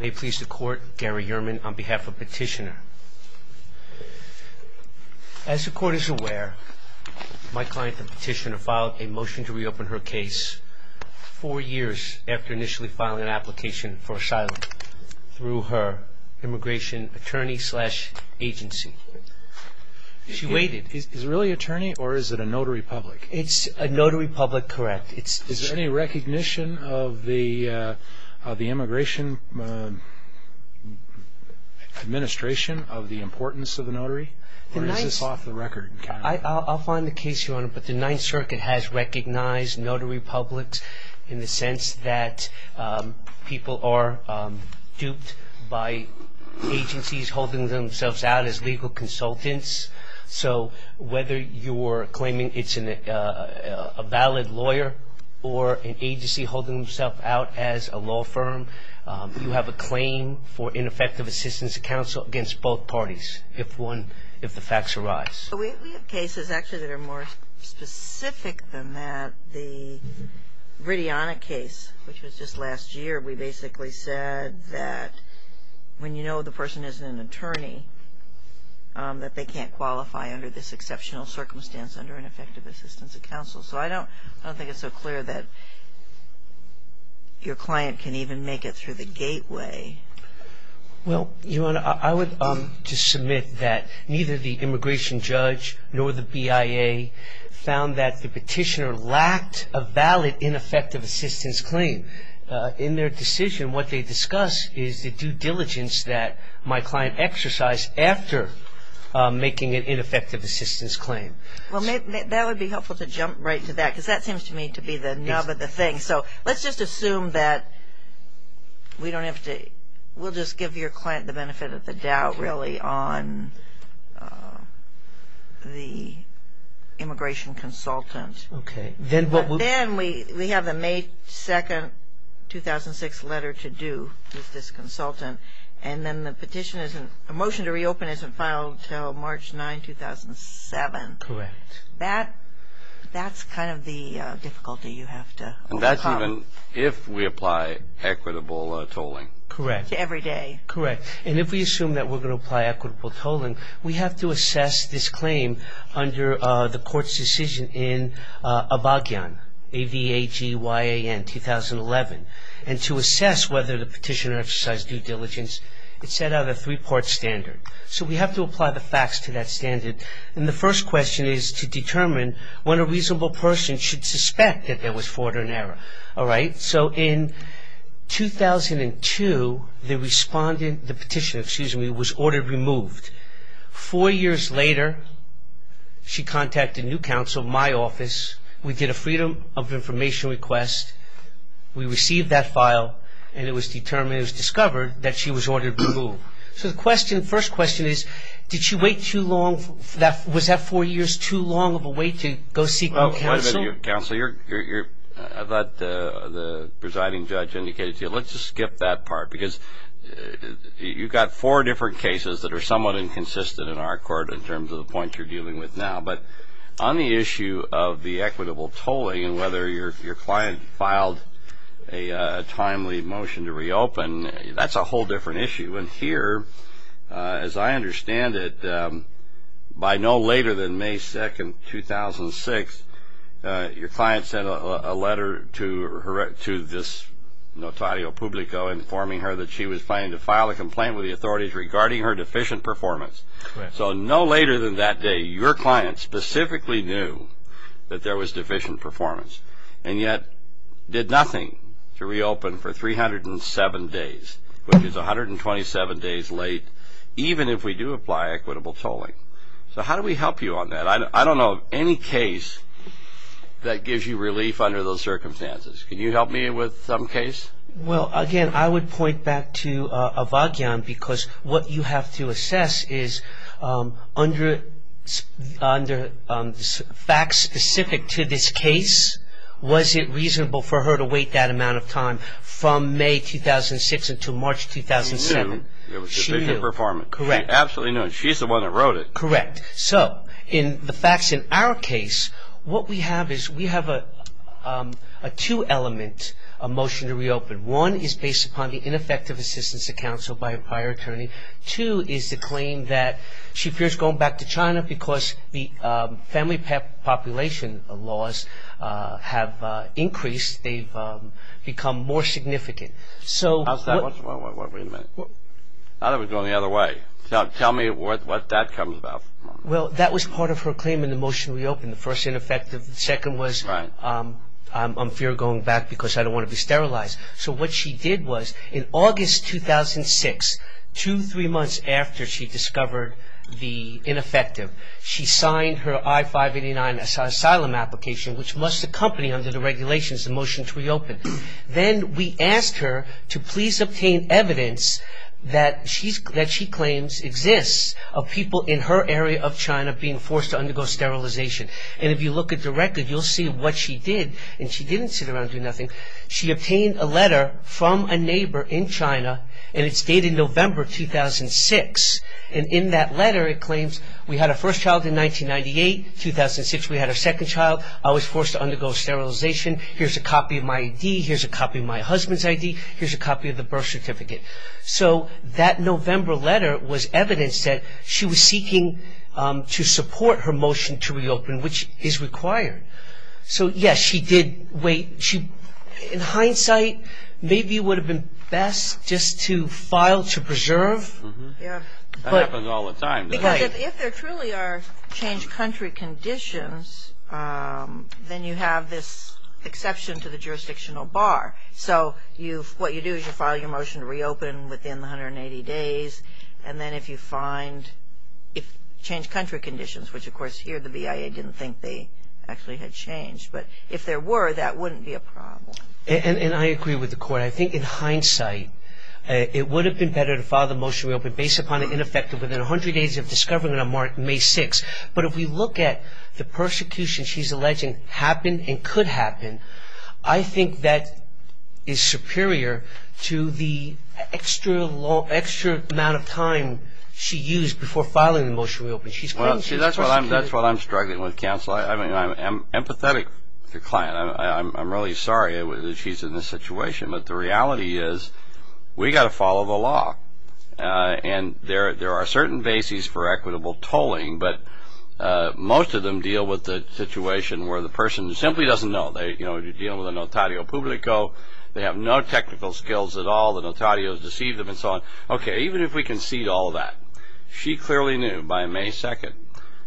May it please the Court, Gary Yerman on behalf of Petitioner. As the Court is aware, my client the Petitioner filed a motion to reopen her case four years after initially filing an application for asylum through her immigration attorney-slash-agency. She waited. Is it really attorney or is it a notary public? It's a notary public, correct. Is there any recognition of the immigration administration of the importance of the notary? Or is this off the record? I'll find the case, Your Honor, but the Ninth Circuit has recognized notary publics in the sense that people are duped by agencies holding themselves out as legal consultants. So whether you're claiming it's a valid lawyer or an agency holding themselves out as a law firm, you have a claim for ineffective assistance to counsel against both parties if the facts arise. We have cases, actually, that are more specific than that. The Gridiana case, which was just last year, we basically said that when you know the person is an attorney that they can't qualify under this exceptional circumstance under ineffective assistance of counsel. So I don't think it's so clear that your client can even make it through the gateway. Well, Your Honor, I would just submit that neither the immigration judge nor the BIA found that the Petitioner lacked a valid ineffective assistance claim. In their decision, what they discuss is the due diligence that my client exercised after making an ineffective assistance claim. Well, that would be helpful to jump right to that because that seems to me to be the nub of the thing. So let's just assume that we'll just give your client the benefit of the doubt, really, on the immigration consultant. Okay. Then we have the May 2, 2006 letter to do with this consultant, and then the petition isn't the motion to reopen isn't filed until March 9, 2007. Correct. That's kind of the difficulty you have to overcome. And that's even if we apply equitable tolling. Correct. Every day. Correct. And if we assume that we're going to apply equitable tolling, we have to assess this claim under the court's decision in Abagyan, A-V-A-G-Y-A-N, 2011. And to assess whether the Petitioner exercised due diligence, it's set out a three-part standard. So we have to apply the facts to that standard. And the first question is to determine when a reasonable person should suspect that there was fraud or an error. All right? So in 2002, the Petitioner was ordered removed. Four years later, she contacted New Counsel, my office. We did a freedom of information request. We received that file, and it was determined, it was discovered that she was ordered removed. So the first question is, did she wait too long? Was that four years too long of a wait to go seek New Counsel? Wait a minute, New Counsel. I thought the presiding judge indicated to you, let's just skip that part, because you've got four different cases that are somewhat inconsistent in our court in terms of the points you're dealing with now. But on the issue of the equitable tolling and whether your client filed a timely motion to reopen, that's a whole different issue. And here, as I understand it, by no later than May 2, 2006, your client sent a letter to this Notario Publico informing her that she was planning to file a complaint with the authorities regarding her deficient performance. So no later than that day, your client specifically knew that there was deficient performance and yet did nothing to reopen for 307 days, which is 127 days late, even if we do apply equitable tolling. So how do we help you on that? I don't know of any case that gives you relief under those circumstances. Can you help me with some case? Well, again, I would point back to Avagyan because what you have to assess is under facts specific to this case, was it reasonable for her to wait that amount of time from May 2006 until March 2007? She knew there was deficient performance. She absolutely knew. She's the one that wrote it. Correct. So in the facts in our case, what we have is we have a two element motion to reopen. One is based upon the ineffective assistance to counsel by a prior attorney. Two is the claim that she fears going back to China because the family population laws have increased. They've become more significant. Wait a minute. I thought it was going the other way. Tell me what that comes about. Well, that was part of her claim in the motion to reopen. The first ineffective. The second was I fear going back because I don't want to be sterilized. So what she did was in August 2006, two, three months after she discovered the ineffective, she signed her I-589 asylum application, which must accompany under the regulations the motion to reopen. Then we asked her to please obtain evidence that she claims exists of people in her area of China being forced to undergo sterilization. And if you look at the record, you'll see what she did. And she didn't sit around and do nothing. She obtained a letter from a neighbor in China, and it's dated November 2006. And in that letter, it claims we had our first child in 1998. 2006, we had our second child. I was forced to undergo sterilization. Here's a copy of my ID. Here's a copy of my husband's ID. Here's a copy of the birth certificate. So that November letter was evidence that she was seeking to support her motion to reopen, which is required. So, yes, she did wait. In hindsight, maybe it would have been best just to file to preserve. That happens all the time. Because if there truly are changed country conditions, then you have this exception to the jurisdictional bar. So what you do is you file your motion to reopen within 180 days. And then if you find changed country conditions, which, of course, here the BIA didn't think they actually had changed, but if there were, that wouldn't be a problem. And I agree with the Court. But I think in hindsight, it would have been better to file the motion to reopen based upon an ineffective within 100 days of discovery on May 6th. But if we look at the persecution she's alleging happened and could happen, I think that is superior to the extra amount of time she used before filing the motion to reopen. She's claiming she was persecuted. Well, see, that's what I'm struggling with, counsel. I mean, I'm empathetic to the client. I'm really sorry that she's in this situation. But the reality is we've got to follow the law. And there are certain bases for equitable tolling, but most of them deal with the situation where the person simply doesn't know. They deal with a notario publico. They have no technical skills at all. The notario has deceived them and so on. Okay, even if we concede all that, she clearly knew by May 2nd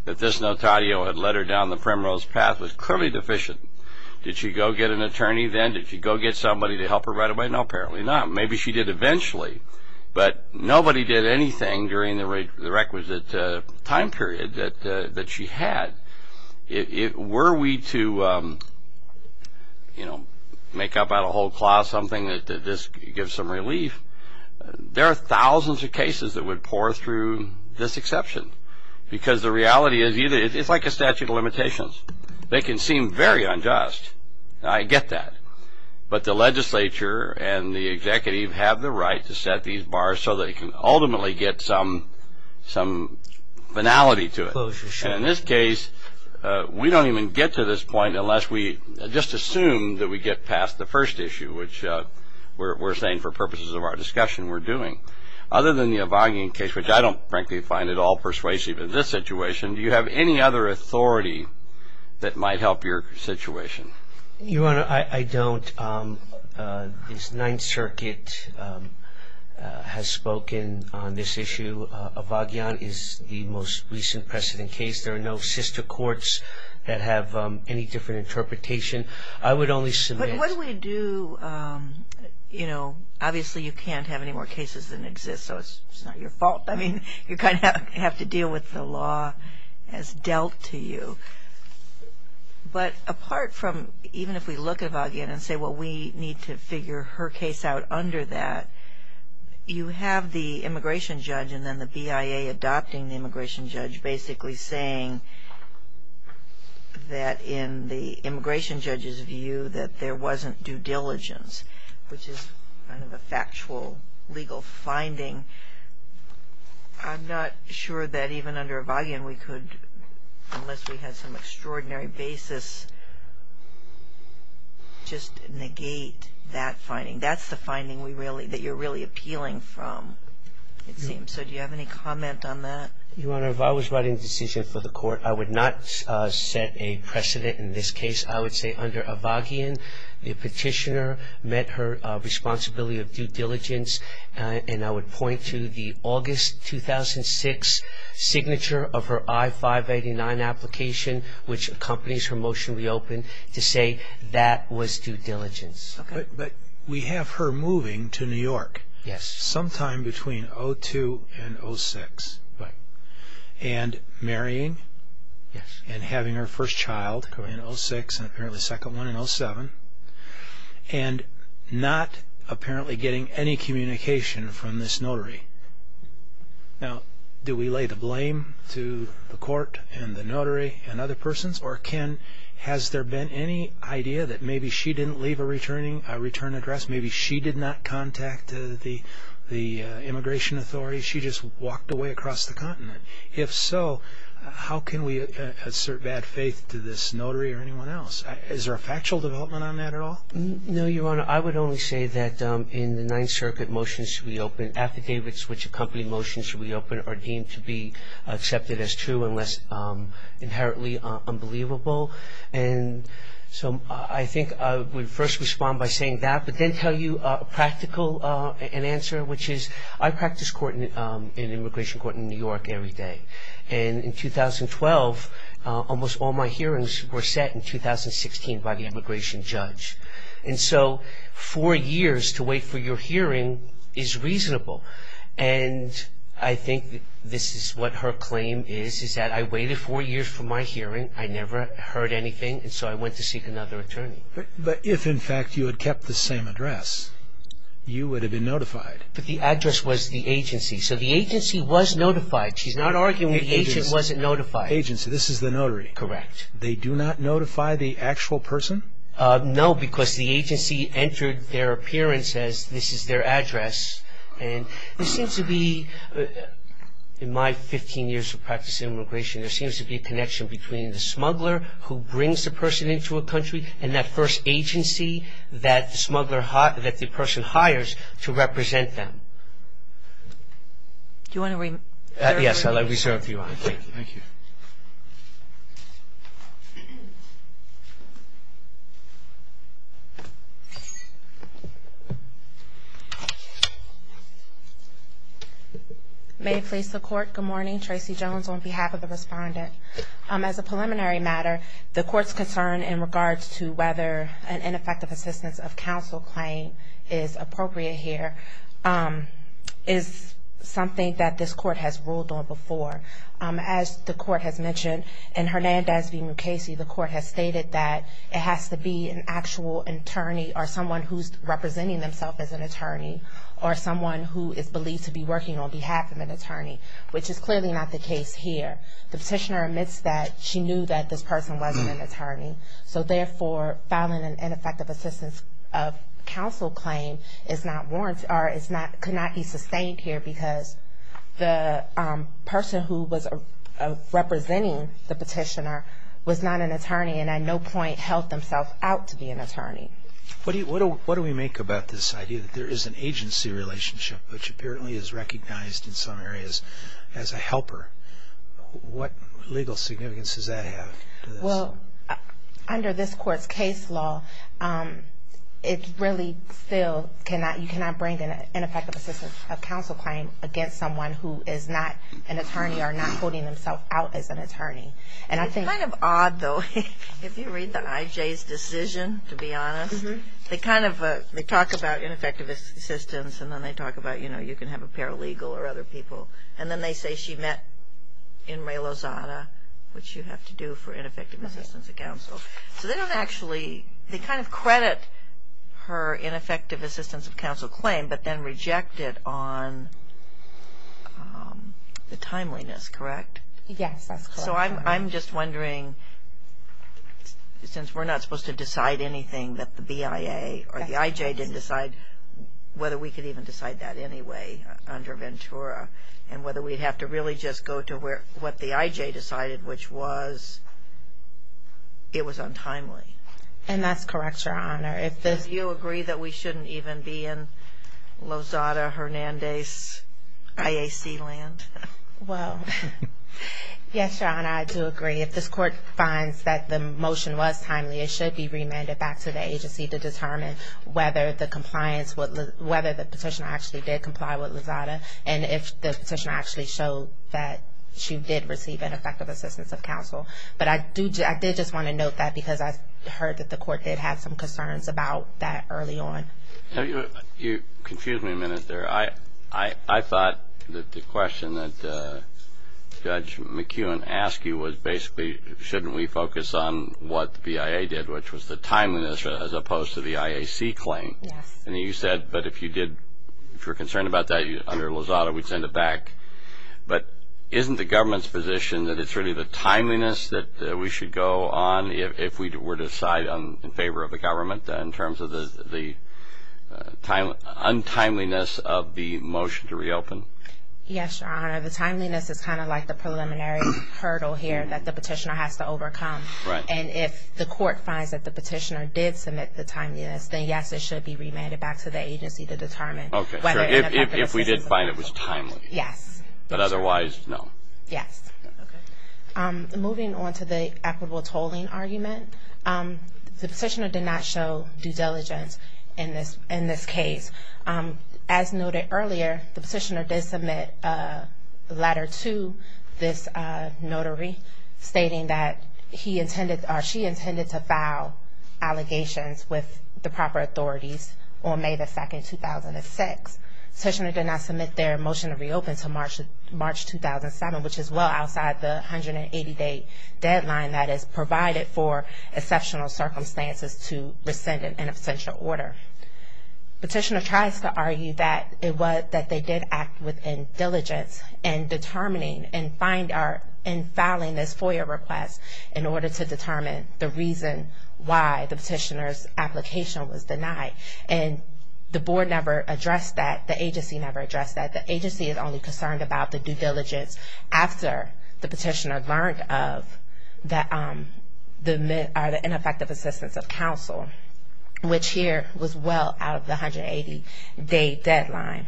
that this notario had led her down the primrose path, was clearly deficient. Did she go get an attorney then? Did she go get somebody to help her right away? No, apparently not. Maybe she did eventually. But nobody did anything during the requisite time period that she had. Were we to, you know, make up out of whole cloth something that this gives some relief, there are thousands of cases that would pour through this exception, because the reality is it's like a statute of limitations. They can seem very unjust. I get that. But the legislature and the executive have the right to set these bars so they can ultimately get some finality to it. And in this case, we don't even get to this point unless we just assume that we get past the first issue, which we're saying for purposes of our discussion we're doing. Other than the Evangeline case, which I don't frankly find at all persuasive in this situation, do you have any other authority that might help your situation? Your Honor, I don't. This Ninth Circuit has spoken on this issue. Evangeline is the most recent precedent case. There are no sister courts that have any different interpretation. I would only submit ---- But what we do, you know, obviously you can't have any more cases than exist, so it's not your fault. I mean, you kind of have to deal with the law as dealt to you. But apart from even if we look at Evangeline and say, well, we need to figure her case out under that, you have the immigration judge and then the BIA adopting the immigration judge basically saying that in the immigration judge's view that there wasn't due diligence, which is kind of a factual legal finding. I'm not sure that even under Evangeline we could, unless we had some extraordinary basis, just negate that finding. That's the finding we really ---- that you're really appealing from, it seems. So do you have any comment on that? Your Honor, if I was writing the decision for the Court, I would not set a precedent in this case. I would say under Evangeline, the petitioner met her responsibility of due diligence, and I would point to the August 2006 signature of her I-589 application, which accompanies her motion to reopen, to say that was due diligence. But we have her moving to New York sometime between 2002 and 2006. Right. And marrying and having her first child in 2006 and apparently the second one in 2007, and not apparently getting any communication from this notary. Now, do we lay the blame to the Court and the notary and other persons, or has there been any idea that maybe she didn't leave a return address, maybe she did not contact the immigration authorities, she just walked away across the continent? If so, how can we assert bad faith to this notary or anyone else? Is there a factual development on that at all? No, Your Honor. I would only say that in the Ninth Circuit, motions to reopen, affidavits which accompany motions to reopen, are deemed to be accepted as true unless inherently unbelievable. And so I think I would first respond by saying that, but then tell you a practical answer, which is I practice in immigration court in New York every day. And in 2012, almost all my hearings were set in 2016 by the immigration judge. And so four years to wait for your hearing is reasonable. And I think this is what her claim is, is that I waited four years for my hearing, I never heard anything, and so I went to seek another attorney. But if, in fact, you had kept the same address, you would have been notified. But the address was the agency, so the agency was notified. She's not arguing the agency wasn't notified. Agency, this is the notary. Correct. They do not notify the actual person? No, because the agency entered their appearance as this is their address. And this seems to be, in my 15 years of practice in immigration, there seems to be a connection between the smuggler who brings the person into a country and that first agency that the smuggler, that the person hires to represent them. Do you want to? Yes, I'll reserve you. Thank you. May I please the Court? Good morning. I'm Tracy Jones on behalf of the Respondent. As a preliminary matter, the Court's concern in regards to whether an ineffective assistance of counsel claim is appropriate here is something that this Court has ruled on before. As the Court has mentioned, in Hernandez v. Mukasey, the Court has stated that it has to be an actual attorney or someone who's representing themselves as an attorney or someone who is believed to be working on behalf of an attorney, which is clearly not the case here. The petitioner admits that she knew that this person wasn't an attorney. So therefore, filing an ineffective assistance of counsel claim is not warranted or could not be sustained here because the person who was representing the petitioner was not an attorney and at no point held themselves out to be an attorney. What do we make about this idea that there is an agency relationship, which apparently is recognized in some areas as a helper? What legal significance does that have? Well, under this Court's case law, you cannot bring an ineffective assistance of counsel claim against someone who is not an attorney or not holding themselves out as an attorney. It's kind of odd, though. If you read the IJ's decision, to be honest, they talk about ineffective assistance and then they talk about, you know, you can have a paralegal or other people and then they say she met in Ray Lozada, which you have to do for ineffective assistance of counsel. So they don't actually, they kind of credit her ineffective assistance of counsel claim but then reject it on the timeliness, correct? Yes, that's correct. So I'm just wondering, since we're not supposed to decide anything that the BIA or the IJ didn't decide, whether we could even decide that anyway under Ventura and whether we'd have to really just go to what the IJ decided, which was it was untimely. And that's correct, Your Honor. Do you agree that we shouldn't even be in Lozada, Hernandez, IAC land? Well, yes, Your Honor, I do agree. If this Court finds that the motion was timely, it should be remanded back to the agency to determine whether the petitioner actually did comply with Lozada and if the petitioner actually showed that she did receive ineffective assistance of counsel. But I did just want to note that because I heard that the Court had had some concerns about that early on. Excuse me a minute there. I thought that the question that Judge McEwen asked you was basically shouldn't we focus on what the BIA did, which was the timeliness as opposed to the IAC claim? Yes. And you said, but if you did, if you're concerned about that under Lozada, we'd send it back. But isn't the government's position that it's really the timeliness that we should go on if we were to decide in favor of the government in terms of the untimeliness of the motion to reopen? Yes, Your Honor. The timeliness is kind of like the preliminary hurdle here that the petitioner has to overcome. Right. And if the Court finds that the petitioner did submit the timeliness, then yes, it should be remanded back to the agency to determine whether or not that assistance was helpful. Okay. So if we did find it was timely. Yes. But otherwise, no. Yes. Okay. Moving on to the equitable tolling argument, the petitioner did not show due diligence in this case. As noted earlier, the petitioner did submit a letter to this notary stating that he intended or she intended to file allegations with the proper authorities on May 2, 2006. The petitioner did not submit their motion to reopen to March 2007, which is well outside the 180-day deadline that is provided for exceptional circumstances to rescind an essential order. The petitioner tries to argue that it was that they did act with indeligence in determining and filing this FOIA request in order to determine the reason why the petitioner's application was denied. And the Board never addressed that. The agency never addressed that. The agency is only concerned about the due diligence after the petitioner learned of the ineffective assistance of counsel, which here was well out of the 180-day deadline.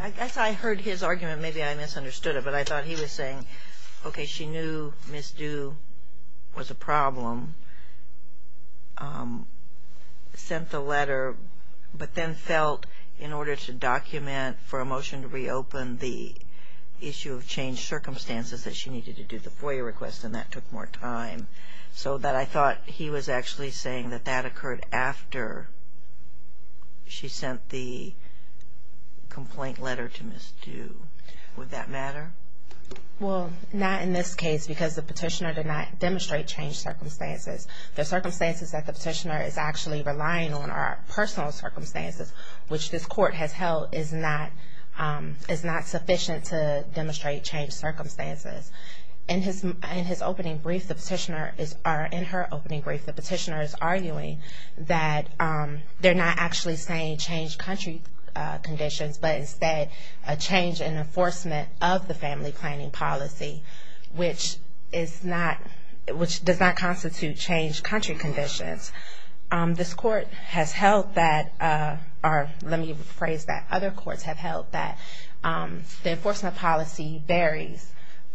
I guess I heard his argument. Maybe I misunderstood it, but I thought he was saying, okay, she knew misdue was a problem. She sent the letter but then felt in order to document for a motion to reopen the issue of changed circumstances that she needed to do the FOIA request, and that took more time, so that I thought he was actually saying that that occurred after she sent the complaint letter to misdue. Would that matter? Well, not in this case because the petitioner did not demonstrate changed circumstances. The circumstances that the petitioner is actually relying on are personal circumstances, which this Court has held is not sufficient to demonstrate changed circumstances. In his opening brief, the petitioner is arguing that they're not actually saying changed country conditions, but instead a change in enforcement of the family planning policy, which does not constitute changed country conditions. This Court has held that, or let me rephrase that. Other courts have held that the enforcement policy varies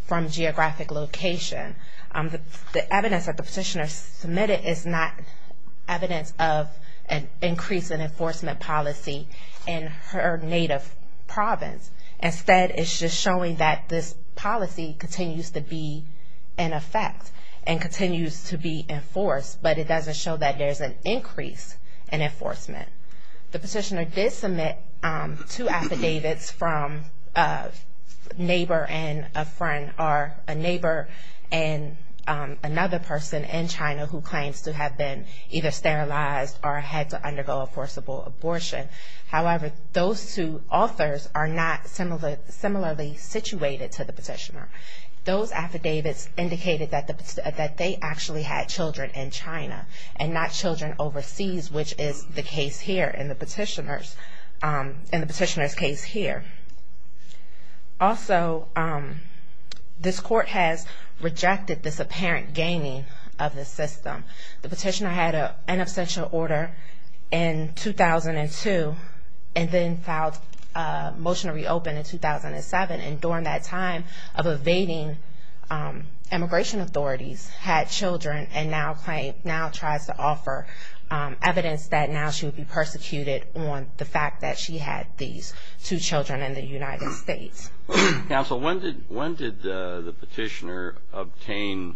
from geographic location. The evidence that the petitioner submitted is not evidence of an increase in enforcement policy in her native province. Instead, it's just showing that this policy continues to be in effect and continues to be enforced, but it doesn't show that there's an increase in enforcement. The petitioner did submit two affidavits from a neighbor and another person in China who claims to have been either sterilized or had to undergo a forcible abortion. However, those two authors are not similarly situated to the petitioner. Those affidavits indicated that they actually had children in China and not children overseas, which is the case here in the petitioner's case here. Also, this Court has rejected this apparent gaining of the system. The petitioner had an abstention order in 2002 and then filed a motion to reopen in 2007. And during that time of evading immigration authorities, had children, and now tries to offer evidence that now she would be persecuted on the fact that she had these two children in the United States. Counsel, when did the petitioner obtain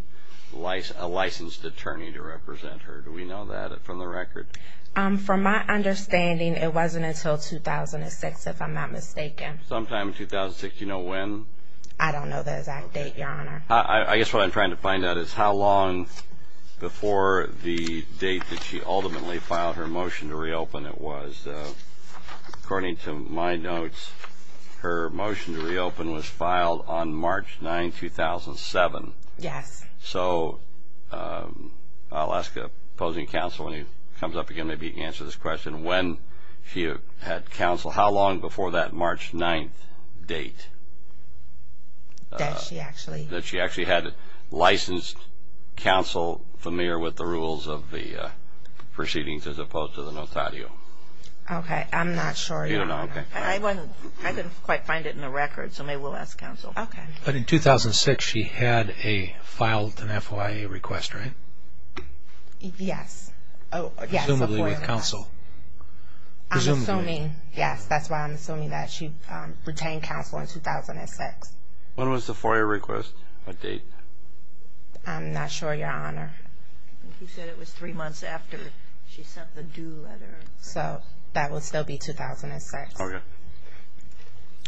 a licensed attorney to represent her? Do we know that from the record? From my understanding, it wasn't until 2006, if I'm not mistaken. Sometime in 2006. Do you know when? I don't know the exact date, Your Honor. I guess what I'm trying to find out is how long before the date that she ultimately filed her motion to reopen it was. According to my notes, her motion to reopen was filed on March 9, 2007. Yes. So, I'll ask opposing counsel when he comes up again, maybe he can answer this question. When she had counsel, how long before that March 9 date? That she actually... That she actually had licensed counsel familiar with the rules of the proceedings as opposed to the notatio. Okay, I'm not sure, Your Honor. I couldn't quite find it in the record, so maybe we'll ask counsel. Okay. But in 2006, she had filed an FOIA request, right? Yes. Presumably with counsel. I'm assuming, yes, that's why I'm assuming that she retained counsel in 2006. When was the FOIA request, the date? I'm not sure, Your Honor. You said it was three months after she sent the due letter. So, that would still be 2006. Okay.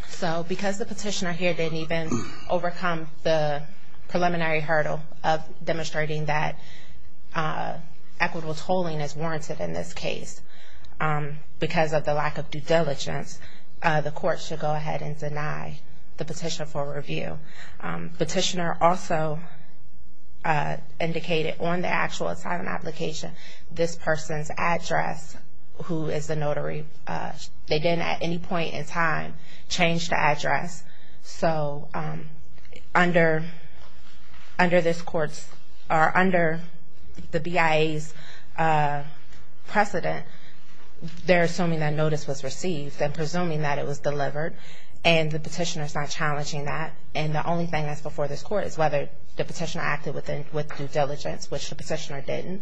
So, because the petitioner here didn't even overcome the preliminary hurdle of demonstrating that equitable tolling is warranted in this case because of the lack of due diligence, the court should go ahead and deny the petition for review. Petitioner also indicated on the actual asylum application this person's address, who is the notary. They didn't at any point in time change the address. So, under this court's or under the BIA's precedent, they're assuming that notice was received and presuming that it was delivered, and the petitioner is not challenging that. And the only thing that's before this court is whether the petitioner acted with due diligence, which the petitioner didn't.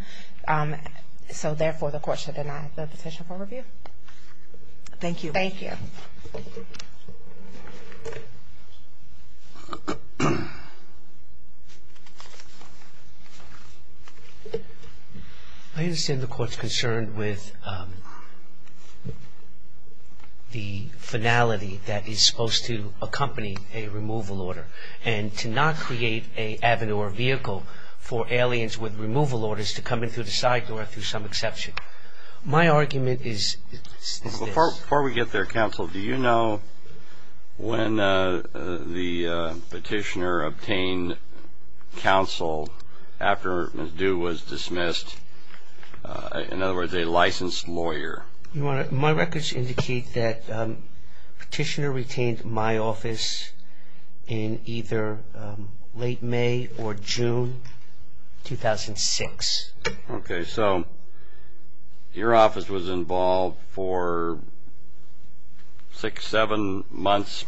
So, therefore, the court should deny the petition for review. Thank you. Thank you. I understand the court's concerned with the finality that is supposed to accompany a removal order and to not create a avenue or vehicle for aliens with removal orders to come in through the side door through some exception. My argument is this. Before we get there, counsel, do you know when the petitioner obtained counsel after Ms. Dew was dismissed, in other words, a licensed lawyer? My records indicate that petitioner retained my office in either late May or June 2006. Okay. So, your office was involved for six, seven months,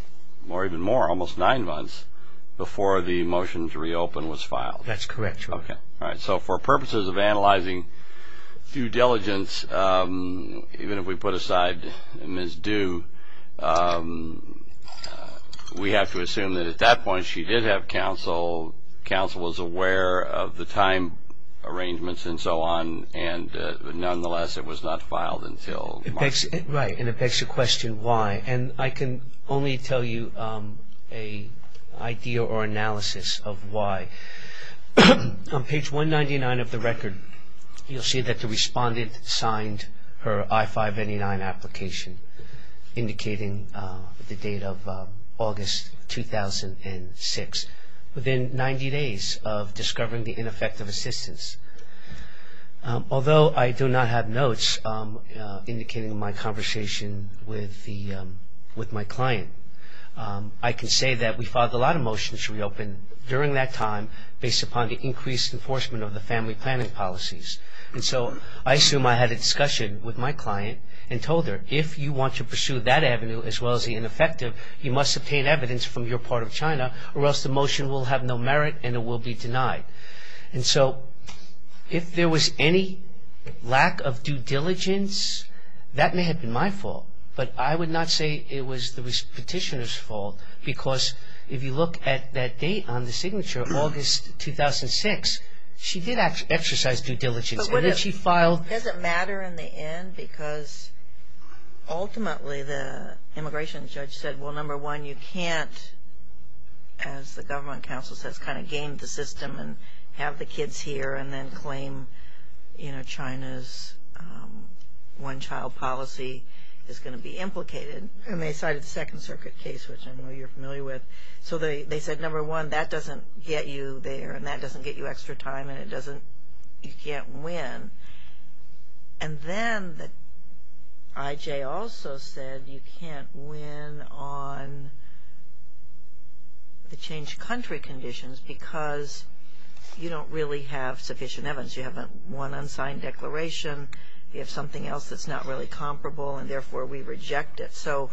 or even more, almost nine months, before the motion to reopen was filed. That's correct, Your Honor. Okay. All right. So, for purposes of analyzing due diligence, even if we put aside Ms. Dew, we have to assume that at that point she did have counsel, counsel was aware of the time arrangements and so on, and, nonetheless, it was not filed until March. Right. And it begs the question why. And I can only tell you an idea or analysis of why. On page 199 of the record, you'll see that the respondent signed her I-599 application, indicating the date of August 2006, within 90 days of discovering the ineffective assistance. Although I do not have notes indicating my conversation with my client, I can say that we filed a lot of motions to reopen during that time, based upon the increased enforcement of the family planning policies. And so, I assume I had a discussion with my client and told her, if you want to pursue that avenue as well as the ineffective, you must obtain evidence from your part of China, or else the motion will have no merit and it will be denied. And so, if there was any lack of due diligence, that may have been my fault, but I would not say it was the petitioner's fault, because if you look at that date on the signature, August 2006, she did exercise due diligence. But it doesn't matter in the end, because ultimately the immigration judge said, well, number one, you can't, as the government counsel says, kind of game the system and have the kids here and then claim, you know, one child policy is going to be implicated. And they cited the Second Circuit case, which I know you're familiar with. So, they said, number one, that doesn't get you there, and that doesn't get you extra time, and it doesn't, you can't win. And then the IJ also said you can't win on the changed country conditions, because you don't really have sufficient evidence. You have one unsigned declaration. You have something else that's not really comparable, and therefore we reject it. So,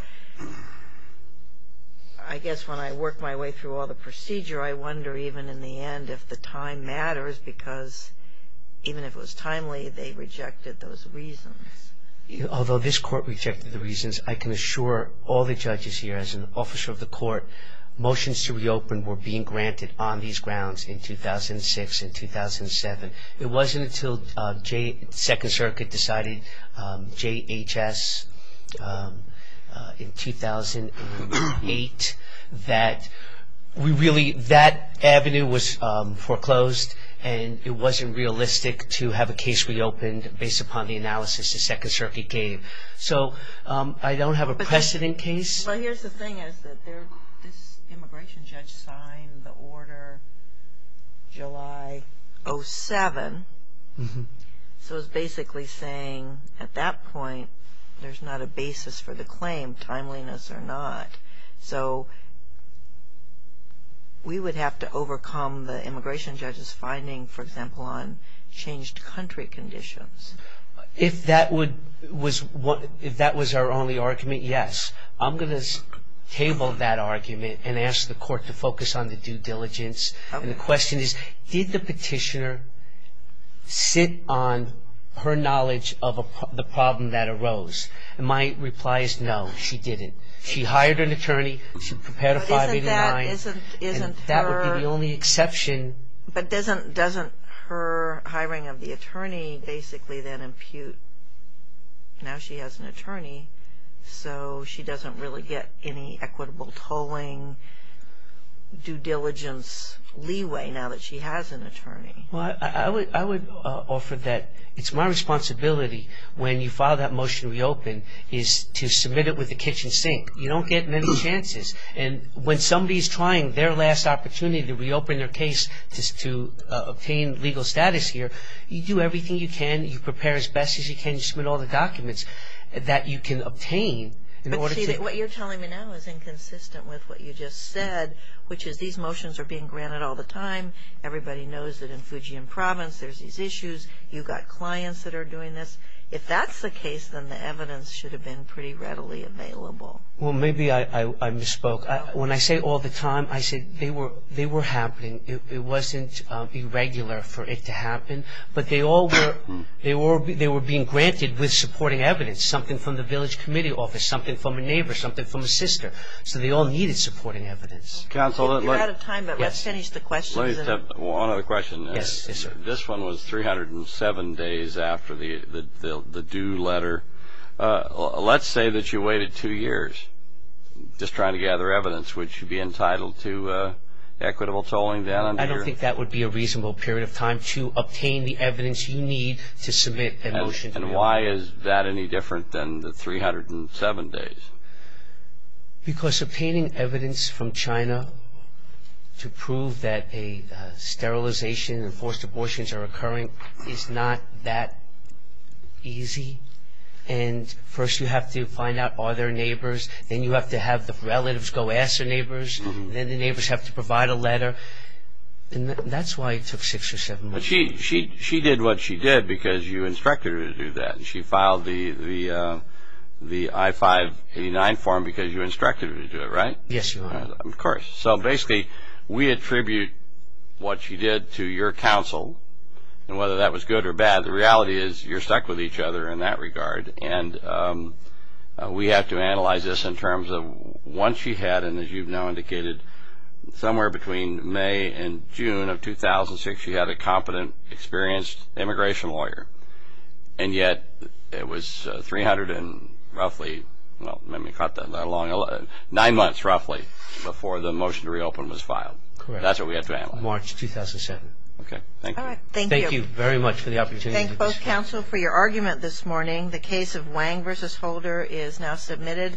I guess when I work my way through all the procedure, I wonder, even in the end, if the time matters, because even if it was timely, they rejected those reasons. Although this Court rejected the reasons, I can assure all the judges here, as an officer of the Court, motions to reopen were being granted on these grounds in 2006 and 2007. It wasn't until the Second Circuit decided JHS in 2008 that we really, that avenue was foreclosed, and it wasn't realistic to have a case reopened based upon the analysis the Second Circuit gave. So, I don't have a precedent case. But here's the thing is that this immigration judge signed the order July 07, so it's basically saying at that point there's not a basis for the claim, timeliness or not. So, we would have to overcome the immigration judge's finding, for example, on changed country conditions. If that was our only argument, yes. I'm going to table that argument and ask the Court to focus on the due diligence. And the question is, did the petitioner sit on her knowledge of the problem that arose? And my reply is no, she didn't. She hired an attorney, she prepared a 589, and that would be the only exception. But doesn't her hiring of the attorney basically then impute, now she has an attorney, so she doesn't really get any equitable tolling, due diligence, leeway now that she has an attorney? Well, I would offer that it's my responsibility when you file that motion to reopen is to submit it with the kitchen sink. You don't get many chances. And when somebody's trying their last opportunity to reopen their case to obtain legal status here, you do everything you can, you prepare as best as you can, you submit all the documents that you can obtain in order to... But see, what you're telling me now is inconsistent with what you just said, which is these motions are being granted all the time. Everybody knows that in Fujian Province there's these issues. You've got clients that are doing this. If that's the case, then the evidence should have been pretty readily available. Well, maybe I misspoke. When I say all the time, I said they were happening. It wasn't irregular for it to happen. But they were being granted with supporting evidence, something from the village committee office, something from a neighbor, something from a sister. So they all needed supporting evidence. Counsel, let's... We're out of time, but let's finish the questions. One other question. Yes, sir. This one was 307 days after the due letter. Let's say that you waited two years just trying to gather evidence. Would you be entitled to equitable tolling then? I don't think that would be a reasonable period of time to obtain the evidence you need to submit a motion. And why is that any different than the 307 days? Because obtaining evidence from China to prove that a sterilization and forced abortions are occurring is not that easy. And first you have to find out are there neighbors. Then you have to have the relatives go ask their neighbors. Then the neighbors have to provide a letter. And that's why it took six or seven months. She did what she did because you instructed her to do that. And she filed the I-589 form because you instructed her to do it, right? Yes, Your Honor. Of course. So basically we attribute what she did to your counsel. And whether that was good or bad, the reality is you're stuck with each other in that regard. And we have to analyze this in terms of once she had, and as you've now indicated, somewhere between May and June of 2006 she had a competent, experienced immigration lawyer. And yet it was roughly nine months roughly before the motion to reopen was filed. Correct. That's what we have to analyze. March 2007. Okay. Thank you. All right. Thank you. Thank you very much for the opportunity. Thank both counsel for your argument this morning. The case of Wang v. Holder is now submitted.